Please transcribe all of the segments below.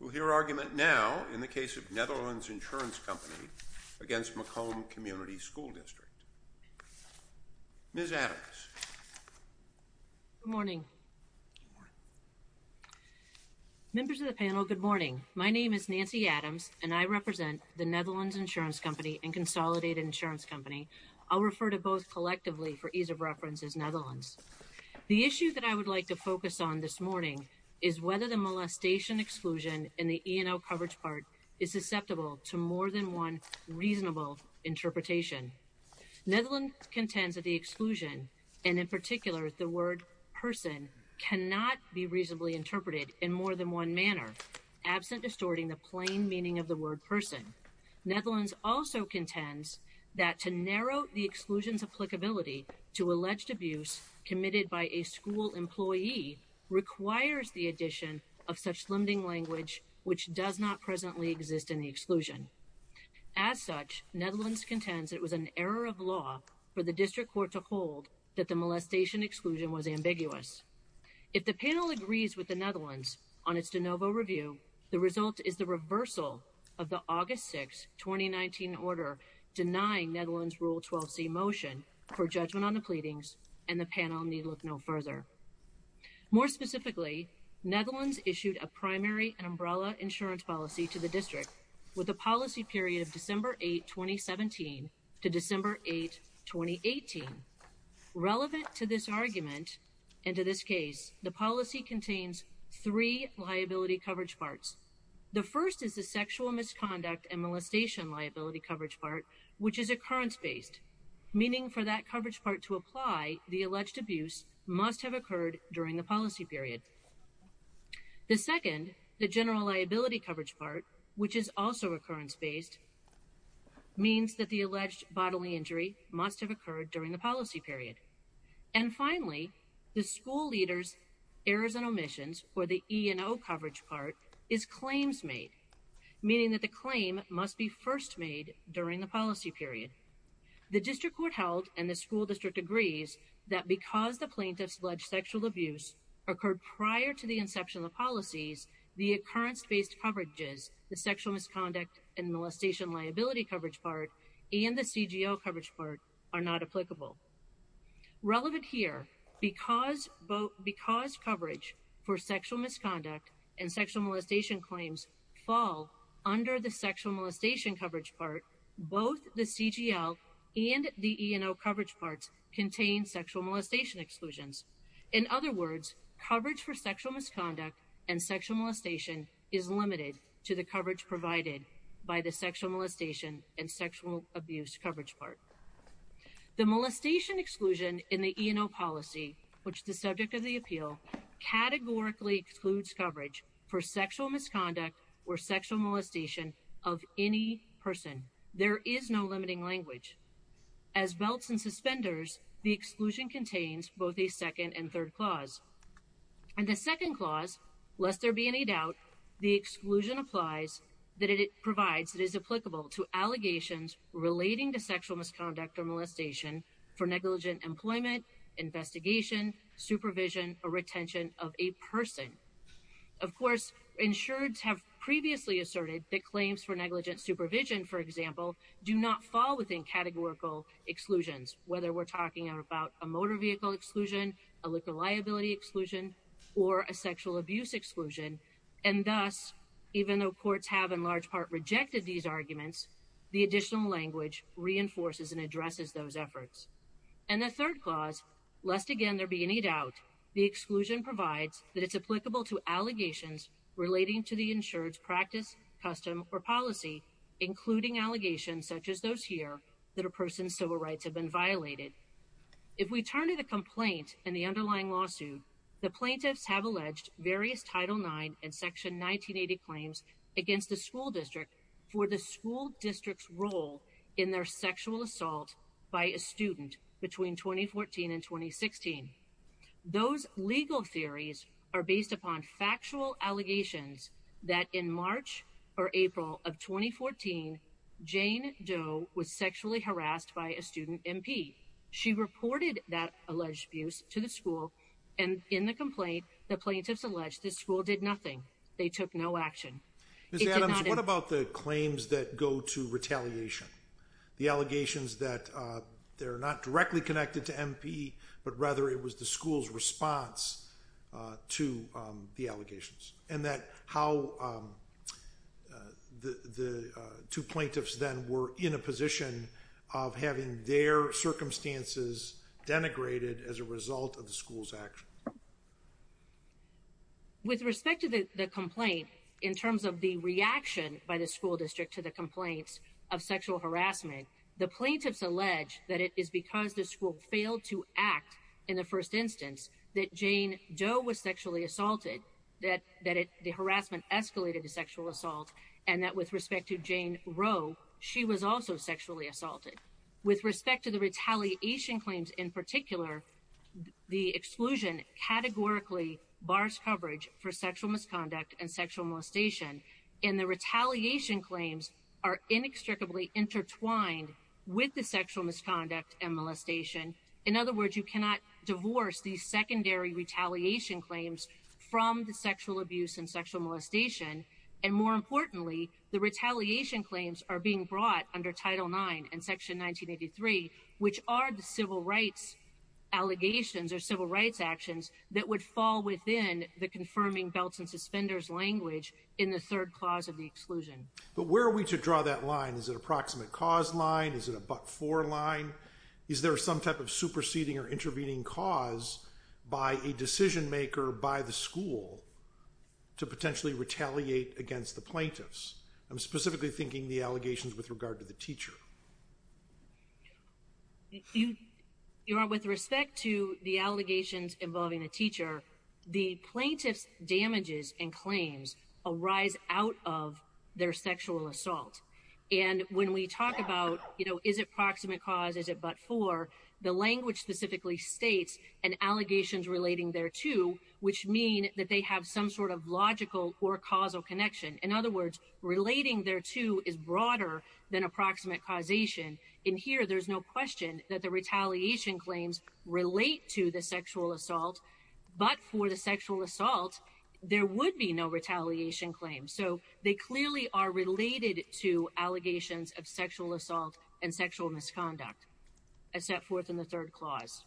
We'll hear argument now in the case of Netherlands Insurance Company against Macomb Community School District. Ms. Adams. Good morning. Members of the panel, good morning. My name is Nancy Adams and I represent the Netherlands Insurance Company and Consolidated Insurance Company. I'll refer to both collectively for ease of reference as Netherlands. The issue that I would like to focus on this evening is whether the molestation exclusion in the E&L coverage part is susceptible to more than one reasonable interpretation. Netherlands contends that the exclusion and in particular the word person cannot be reasonably interpreted in more than one manner absent distorting the plain meaning of the word person. Netherlands also contends that to narrow the exclusions applicability to language which does not presently exist in the exclusion. As such, Netherlands contends it was an error of law for the district court to hold that the molestation exclusion was ambiguous. If the panel agrees with the Netherlands on its de novo review, the result is the reversal of the August 6, 2019 order denying Netherlands Rule 12c motion for judgment on the pleadings and the panel need look no further. More specifically, Netherlands issued a primary and umbrella insurance policy to the district with a policy period of December 8, 2017 to December 8, 2018. Relevant to this argument and to this case, the policy contains three liability coverage parts. The first is the sexual misconduct and molestation liability coverage part which is occurrence-based, meaning for that coverage part to apply, the alleged abuse must have occurred during the policy period. The second, the general liability coverage part which is also occurrence-based, means that the alleged bodily injury must have occurred during the policy period. And finally, the school leaders errors and omissions or the E&O coverage part is claims made, meaning that the claim must be first made during the policy period. The district court held and the school district agrees that because the plaintiffs alleged sexual abuse occurred prior to the inception of policies, the occurrence-based coverages, the sexual misconduct and molestation liability coverage part and the CGO coverage part are not applicable. Relevant here, because coverage for sexual misconduct and sexual molestation claims fall under the sexual molestation coverage part, both the CGL and the E&O coverage parts contain sexual molestation exclusions. In other words, coverage for sexual misconduct and sexual molestation is limited to the coverage provided by the sexual molestation and sexual abuse coverage part. The molestation exclusion in the E&O policy, which is the subject of the appeal, categorically excludes coverage for a person. There is no limiting language. As belts and suspenders, the exclusion contains both a second and third clause. And the second clause, lest there be any doubt, the exclusion applies that it provides, it is applicable to allegations relating to sexual misconduct or molestation for negligent employment, investigation, supervision, or retention of a person. Of course, insureds have previously asserted that claims for negligent supervision, for example, do not fall within categorical exclusions, whether we're talking about a motor vehicle exclusion, a liquid liability exclusion, or a sexual abuse exclusion. And thus, even though courts have in large part rejected these arguments, the additional language reinforces and addresses those efforts. And the third clause, lest again there be any doubt, the exclusion provides that it's practice, custom, or policy, including allegations such as those here, that a person's civil rights have been violated. If we turn to the complaint and the underlying lawsuit, the plaintiffs have alleged various Title IX and Section 1980 claims against the school district for the school district's role in their sexual assault by a student between 2014 and 2016. Those legal theories are based upon factual allegations that in March or April of 2014, Jane Doe was sexually harassed by a student MP. She reported that alleged abuse to the school, and in the complaint, the plaintiffs alleged this school did nothing. They took no action. Ms. Adams, what about the claims that go to retaliation? The allegations that they're not directly connected to MP, but rather it was the school's to the allegations, and that how the two plaintiffs then were in a position of having their circumstances denigrated as a result of the school's action. With respect to the complaint, in terms of the reaction by the school district to the complaints of sexual harassment, the plaintiffs allege that it is because the sexually assaulted, that the harassment escalated to sexual assault, and that with respect to Jane Roe, she was also sexually assaulted. With respect to the retaliation claims in particular, the exclusion categorically bars coverage for sexual misconduct and sexual molestation, and the retaliation claims are inextricably intertwined with the sexual misconduct and molestation. In other words, you cannot divorce these secondary retaliation claims from the sexual abuse and sexual molestation, and more importantly, the retaliation claims are being brought under Title IX and Section 1983, which are the civil rights allegations or civil rights actions that would fall within the confirming belts and suspenders language in the third clause of the exclusion. But where are we to draw that line? Is it a proximate cause line? Is it a but-for line? Is there some type of superseding or intervening cause by a decision-maker, by the school, to potentially retaliate against the plaintiffs? I'm specifically thinking the allegations with regard to the teacher. With respect to the allegations involving a teacher, the plaintiffs' damages and claims arise out of their sexual assault, and when we talk about, you know, is it proximate cause, is it but-for, the language specifically states an allegations relating thereto, which mean that they have some sort of logical or causal connection. In other words, relating thereto is broader than approximate causation. In here, there's no question that the retaliation claims relate to the sexual assault, but for the sexual assault, there would be no sexual assault and sexual misconduct, as set forth in the third clause.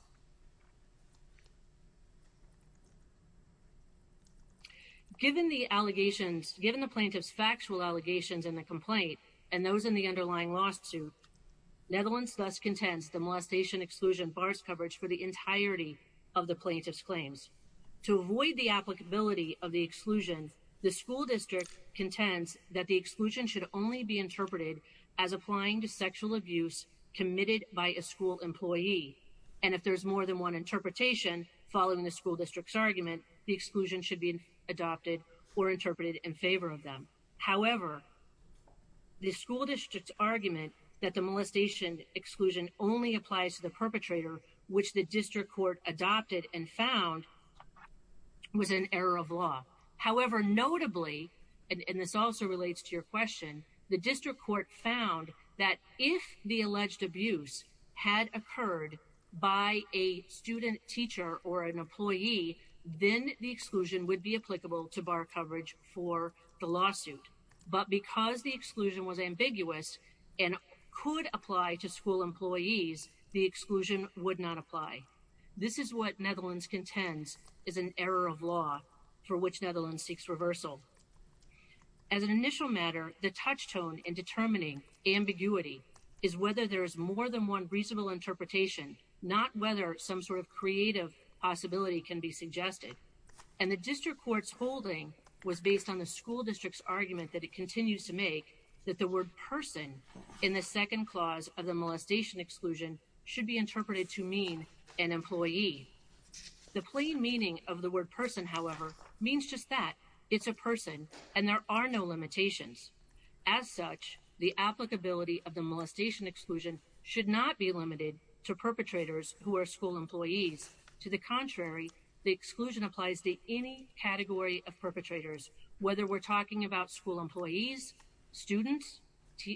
Given the allegations, given the plaintiffs' factual allegations in the complaint, and those in the underlying lawsuit, Netherlands thus contends the molestation exclusion bars coverage for the entirety of the plaintiffs' claims. To avoid the applicability of the exclusion, the school district contends that the sexual abuse committed by a school employee, and if there's more than one interpretation following the school district's argument, the exclusion should be adopted or interpreted in favor of them. However, the school district's argument that the molestation exclusion only applies to the perpetrator, which the district court adopted and found was an error of law. However, notably, and this also relates to your question, the district court found that if the alleged abuse had occurred by a student teacher or an employee, then the exclusion would be applicable to bar coverage for the lawsuit. But because the exclusion was ambiguous and could apply to school employees, the exclusion would not apply. This is what Netherlands contends is an error of law for which Netherlands seeks reversal. As an initial matter, the touchstone in determining ambiguity is whether there is more than one reasonable interpretation, not whether some sort of creative possibility can be suggested. And the district court's holding was based on the school district's argument that it continues to make that the word person in the second clause of the molestation exclusion should be interpreted to mean an employee. The plain meaning of the word person, however, means just that it's a person and there are no limitations. As such, the applicability of the molestation exclusion should not be limited to perpetrators who are school employees. To the contrary, the exclusion applies to any category of perpetrators, whether we're talking about school employees, students,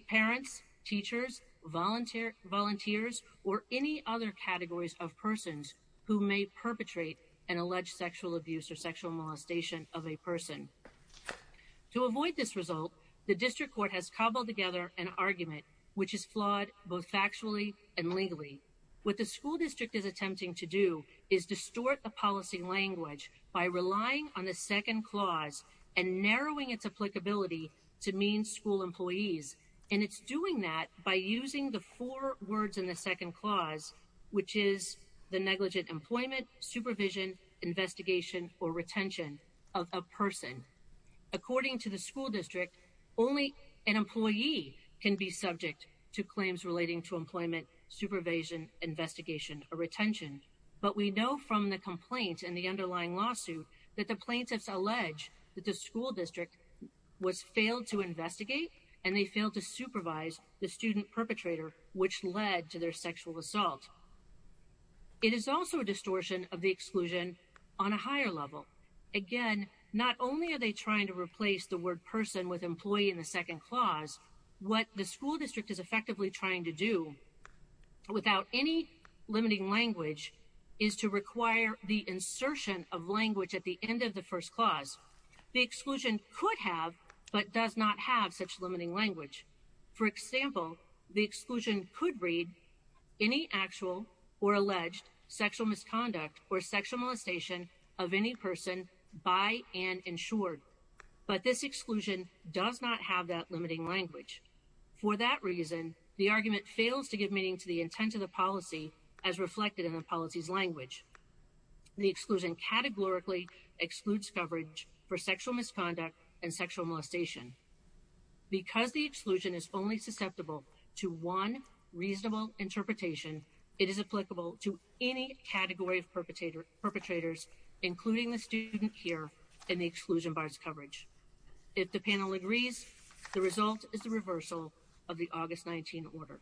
parents, teachers, volunteers, or any other categories of persons who may perpetrate an alleged sexual abuse or sexual molestation of a person. To avoid this result, the district court has cobbled together an argument which is flawed both factually and legally. What the school district is attempting to do is distort the policy language by relying on the second clause and narrowing its applicability to mean school employees. And it's doing that by using the four words in the second clause, which is the negligent employment, supervision, investigation or retention of a person. According to the school district, only an employee can be subject to claims relating to employment, supervision, investigation or retention. But we know from the complaints and the underlying lawsuit that the plaintiffs allege that the school district was failed to investigate and they failed to supervise the student perpetrator, which led to their sexual assault. It is also a distortion of the exclusion on a higher level. Again, not only are they trying to replace the word person with employee in the second clause, what the school district is effectively trying to do without any limiting language is to require the insertion of language at the end of the first clause. The exclusion could have but does not have such limiting language. For example, the exclusion could read any actual or alleged sexual misconduct or sexual molestation of any person by and insured. But this exclusion does not have that limiting language. For that reason, the argument fails to give meaning to the intent of the policy as reflected in the policy's language. The exclusion categorically excludes coverage for sexual misconduct and sexual molestation because the exclusion is only susceptible to one reasonable interpretation. It is applicable to any category of perpetrator perpetrators, including the student here in the exclusion bars coverage. If the panel agrees, the result is the reversal of the August 19 order.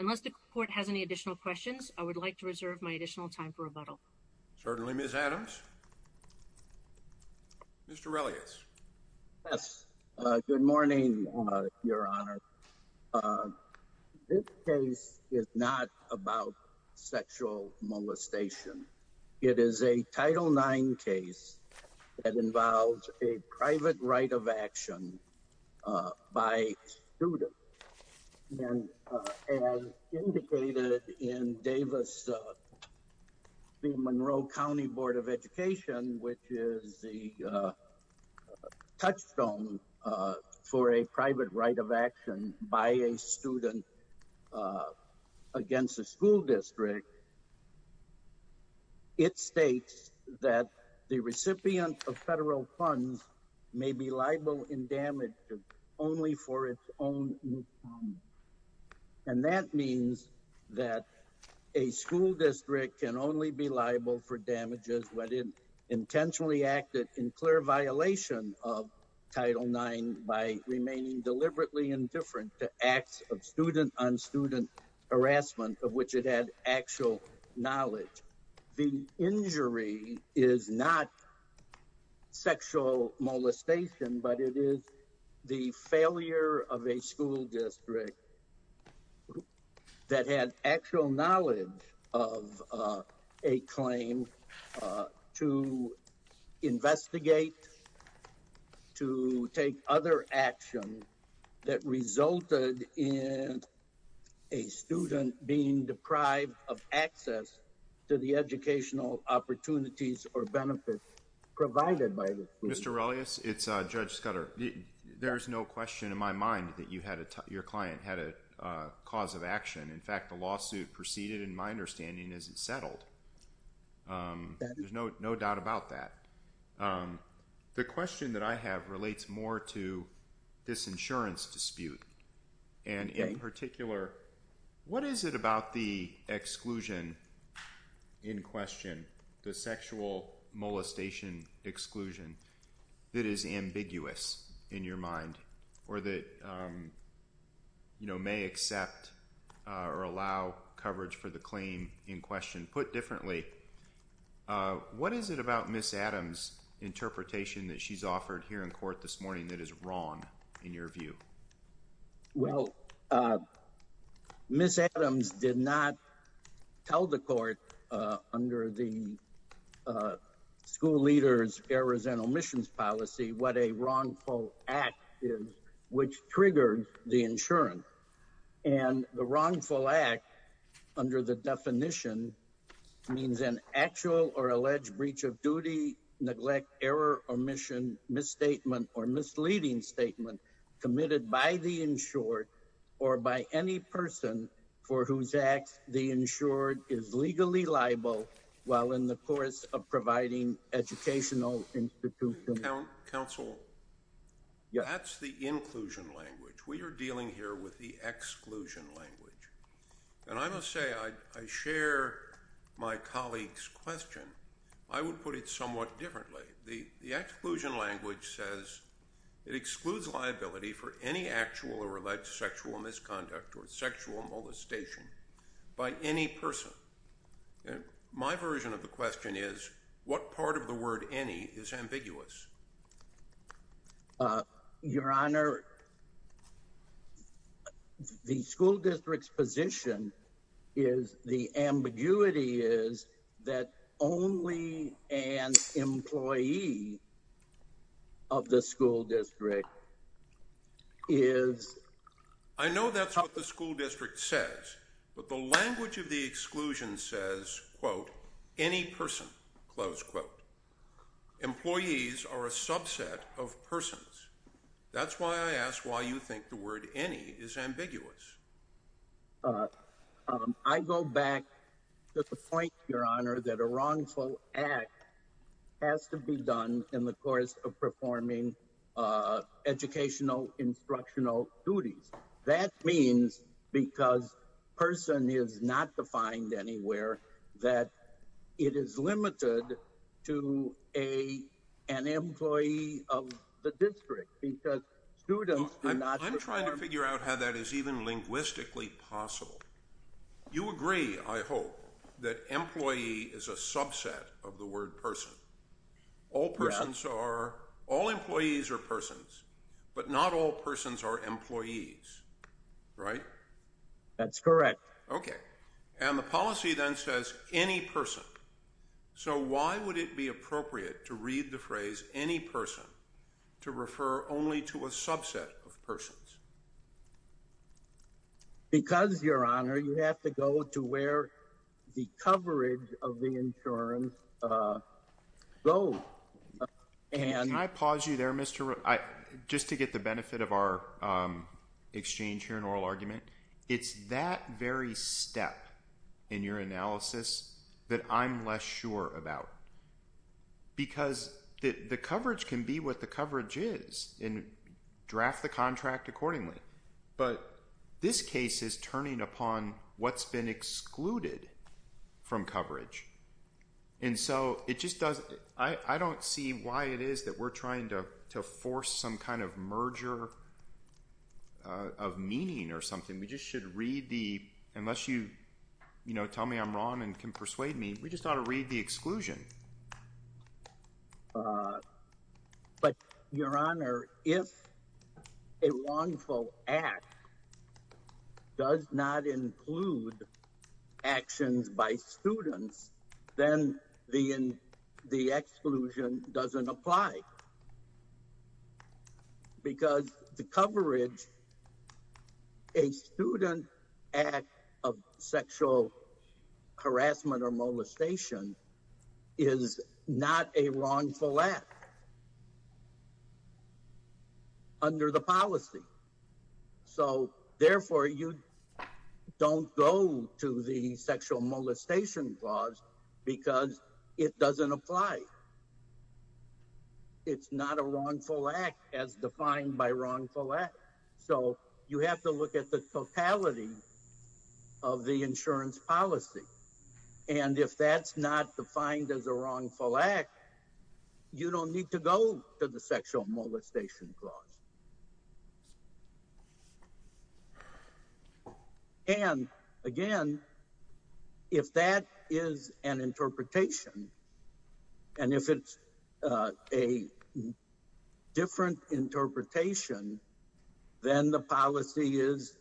Unless the court has any additional questions, I would like to reserve my additional time for rebuttal. Certainly, Miss Adams. Mr Relius. Yes. Good morning, Your Honor. Uh, this case is not about sexual molestation. It is a title nine case that involves a private right of action by students. And as indicated in Davis Monroe County Board of Education, which is the, uh, touchstone for a private right of action by a student, uh, against the school district. It states that the recipient of federal funds may be liable in damage only for its own. And that means that a school district can only be liable for damages when it intentionally acted in clear violation of Title nine by remaining deliberately indifferent to acts of student on student harassment of which it had actual knowledge. The injury is not sexual molestation, but it is the failure of a school district that had actual knowledge of, uh, a claim, uh, to investigate, to take other action that resulted in a student being deprived of access to the educational opportunities or benefits provided by Mr Relius. It's Judge Scudder. There's no question in my mind that you had your client had a cause of action. In fact, the lawsuit proceeded in my understanding is it settled? Um, there's no doubt about that. Um, the question that I have relates more to this insurance dispute and in particular, what is it about the exclusion in question? The sexual molestation exclusion that is ambiguous in your mind or that, um, you know, may accept or allow coverage for the claim in question put differently. Uh, what is it about Miss Adams interpretation that she's offered here in court this morning that is wrong in your view? Well, uh, Miss Adams did not tell the court under the, uh, school leaders errors and omissions policy. What a wrongful act is, which triggered the insurance and the wrongful act under the definition means an actual or alleged breach of duty, neglect, error, omission, misstatement or misleading statement committed by the insured or by any person for whose acts the insured is legally liable while in the course of providing educational institutions. Council. That's the inclusion language. We're dealing here with the exclusion language. And I must say, I share my colleagues question. I would put it somewhat differently. The exclusion language says it excludes liability for any actual or alleged sexual misconduct or sexual molestation by any person. My version of the question is what part of the word any is ambiguous? Uh, Your Honor, the school district's position is the ambiguity is that only an employee of the school district is. I know that's what the school district says. But the language of the exclusion says, quote, any person close quote, employees are a ask why you think the word any is ambiguous. Uh, I go back to the point, Your Honor, that a wrongful act has to be done in the course of performing, uh, educational instructional duties. That means because person is not defined anywhere that it is limited to a an I'm trying to figure out how that is even linguistically possible. You agree, I hope that employee is a subset of the word person. All persons are all employees or persons, but not all persons are employees, right? That's correct. Okay. And the policy then says any person. So why would it be appropriate to read the phrase any person to refer only to a subset of persons? Because, Your Honor, you have to go to where the coverage of the insurance, uh, low. And I pause you there, Mr. Just to get the benefit of our, um, exchange here in oral argument. It's that very step in your analysis that I'm less sure about because the coverage can be what the coverage is and draft the contract accordingly. But this case is turning upon what's been excluded from coverage. And so it just does. I don't see why it is that we're trying toe force some kind of merger of meaning or something. We just should read the unless you, you know, tell me I'm wrong and can persuade me. We just ought to read the exclusion. Uh, but, Your Honor, if a wrongful act does not include actions by students, then the in the exclusion doesn't apply because the coverage a student act of sexual harassment or molestation is not a wrongful act under the policy. So therefore, you don't go to the sexual molestation clause because it doesn't apply. It's not a wrongful act as defined by wrongful act. So you have to look at the totality of the insurance policy. And if that's not defined as a wrongful act, you don't need to go to the sexual molestation clause. And again, if that is an interpretation and if it's a different interpretation, then the policy is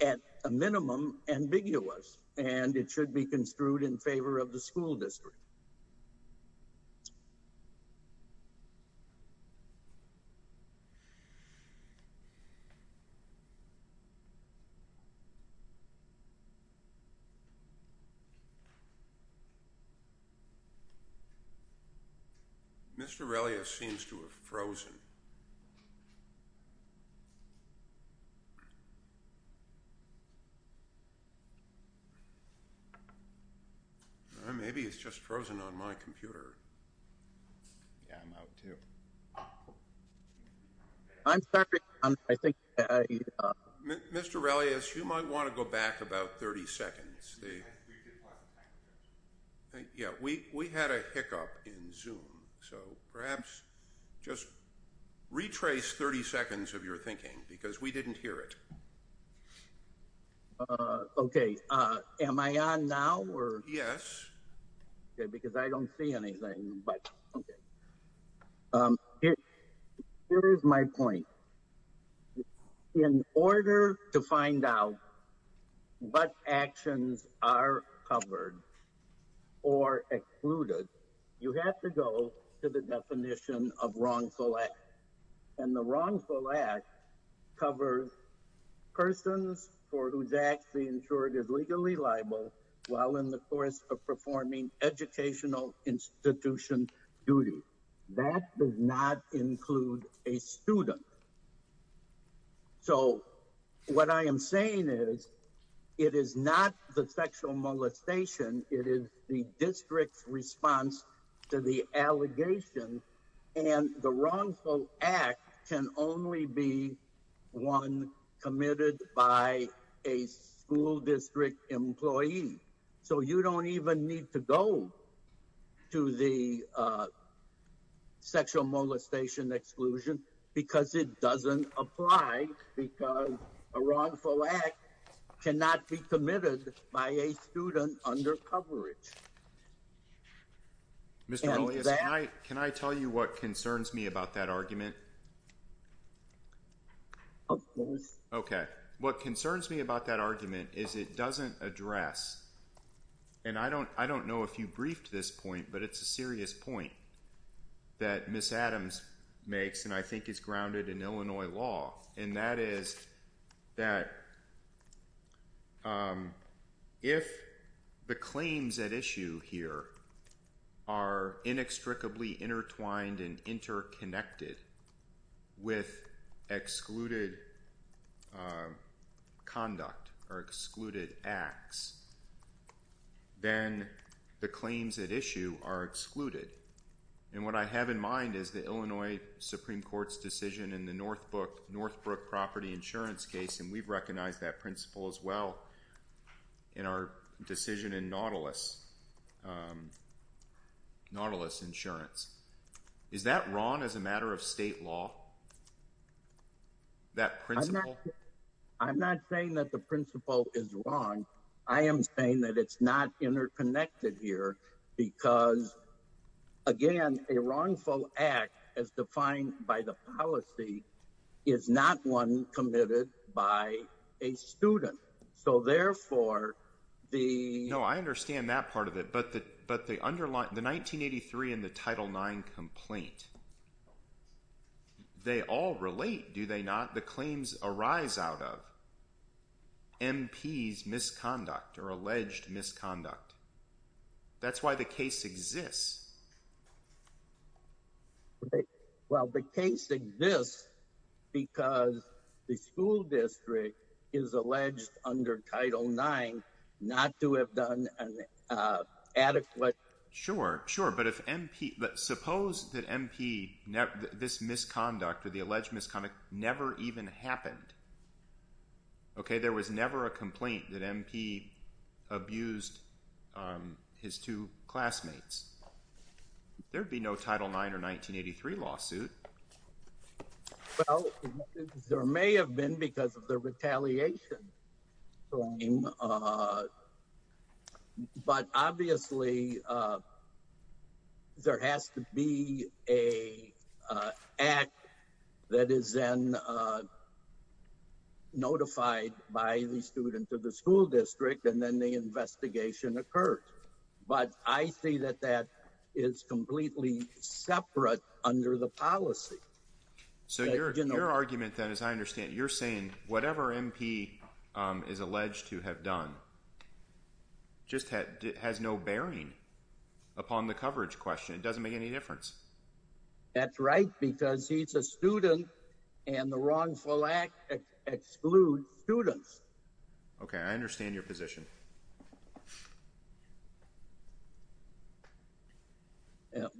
at a minimum ambiguous, and it should be construed in favor of the school district. Mr. Relia seems to have frozen. Maybe it's just frozen on my computer. I'm sorry. I think Mr. Relias, you might want to go back about 30 seconds. Yeah, we had a hiccup in Zoom. So perhaps just retrace 30 seconds of your thinking because we didn't hear it. Okay. Am I on now? Yes. Because I don't see anything. But okay. Here is my point. In order to find out what actions are covered or excluded, you have to go to the definition of wrongful act. And the wrongful act covers persons for whose act the insured is legally liable while in the course of performing educational institution duty. That does not include a student. So what I am saying is, it is not the sexual molestation. It is the district's response to the allegation. And the wrongful act can only be one committed by a school district employee. So you don't even need to go to the sexual molestation exclusion because it doesn't apply because a wrongful act cannot be committed by a student under coverage. Mr. Relias, can I tell you what concerns me about that argument? Okay. What concerns me about that argument is it doesn't address, and I don't know if you briefed this point, but it's a serious point that Ms. Adams makes and I think is grounded in Illinois law, and that is that if the claims at issue here are inextricably intertwined and interconnected with excluded conduct or excluded acts, then the claims at issue are excluded. And what I have in mind is the Illinois Supreme Court's decision in the Northbrook property insurance case, and we've recognized that principle as well in our decision in Nautilus insurance. Is that wrong as a matter of that principle? I'm not saying that the principle is wrong. I am saying that it's not interconnected here because again, a wrongful act as defined by the policy is not one committed by a student. So therefore the... No, I understand that part of it, but the 1983 and the late, do they not, the claims arise out of MP's misconduct or alleged misconduct. That's why the case exists. Well, the case exists because the school district is alleged under Title IX not to have done an adequate... Sure, sure. But if MP... Suppose that MP, this misconduct or the alleged misconduct never even happened. Okay, there was never a complaint that MP abused his two classmates. There'd be no Title IX or 1983 lawsuit. Well, there may have been because of the retaliation claim, but obviously there has to be a act that is then notified by the student of the school district and then the investigation occurred. But I see that that is completely separate under the policy. So your argument then, as I understand, you're saying whatever MP is alleged to have done just has no bearing upon the coverage question. It doesn't make any difference. That's right, because he's a student and the wrongful act excludes students. Okay, I understand your position.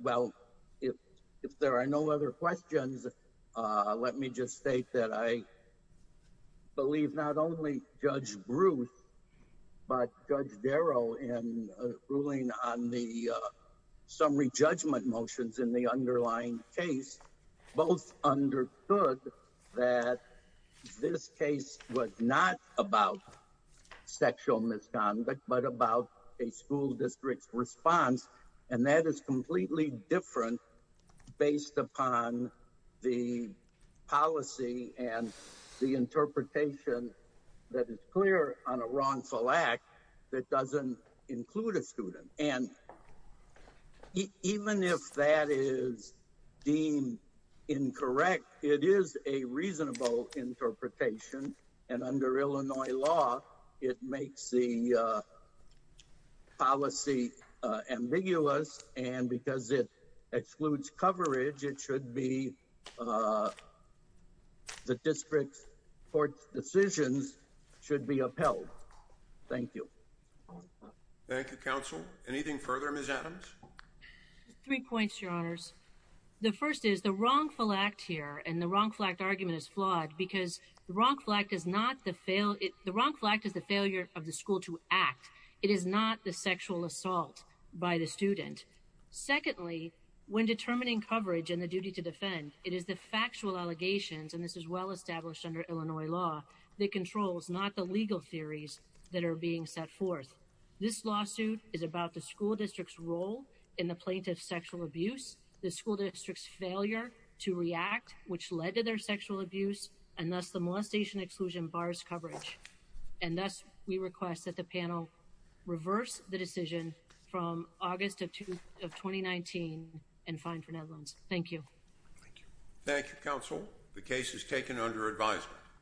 Well, if there are no other questions, let me just state that I believe not only Judge Bruce, but Judge Darrow in ruling on the summary judgment motions in the underlying case both understood that this case was not about sexual misconduct, but about a school district's response. And that is completely different based upon the policy and the interpretation that is clear on a wrongful act that doesn't include a student. And even if that is deemed incorrect, it is a reasonable interpretation and under Illinois law, it makes the policy ambiguous and because it excludes coverage, it should be the district's court's decisions should be upheld. Thank you. Thank you, Counsel. Anything further, Ms. Adams? Three points, Your Honors. The first is the wrongful act here and the wrongful act argument is flawed because the wrongful act is not the fail. The wrongful act is the failure of the school to act. It is not the sexual assault by the student. Secondly, when determining coverage and the duty to defend, it is the factual allegations, and this is well established under Illinois law, that controls not the legal theories that are being set forth. This lawsuit is about the school district's role in the plaintiff's sexual abuse, the school district's failure to react, which led to their sexual abuse, and thus the molestation exclusion bars coverage. And thus, we request that the panel reverse the decision from August of 2019 and fine for net loans. Thank you. Thank you, Counsel. The case is taken under advisement.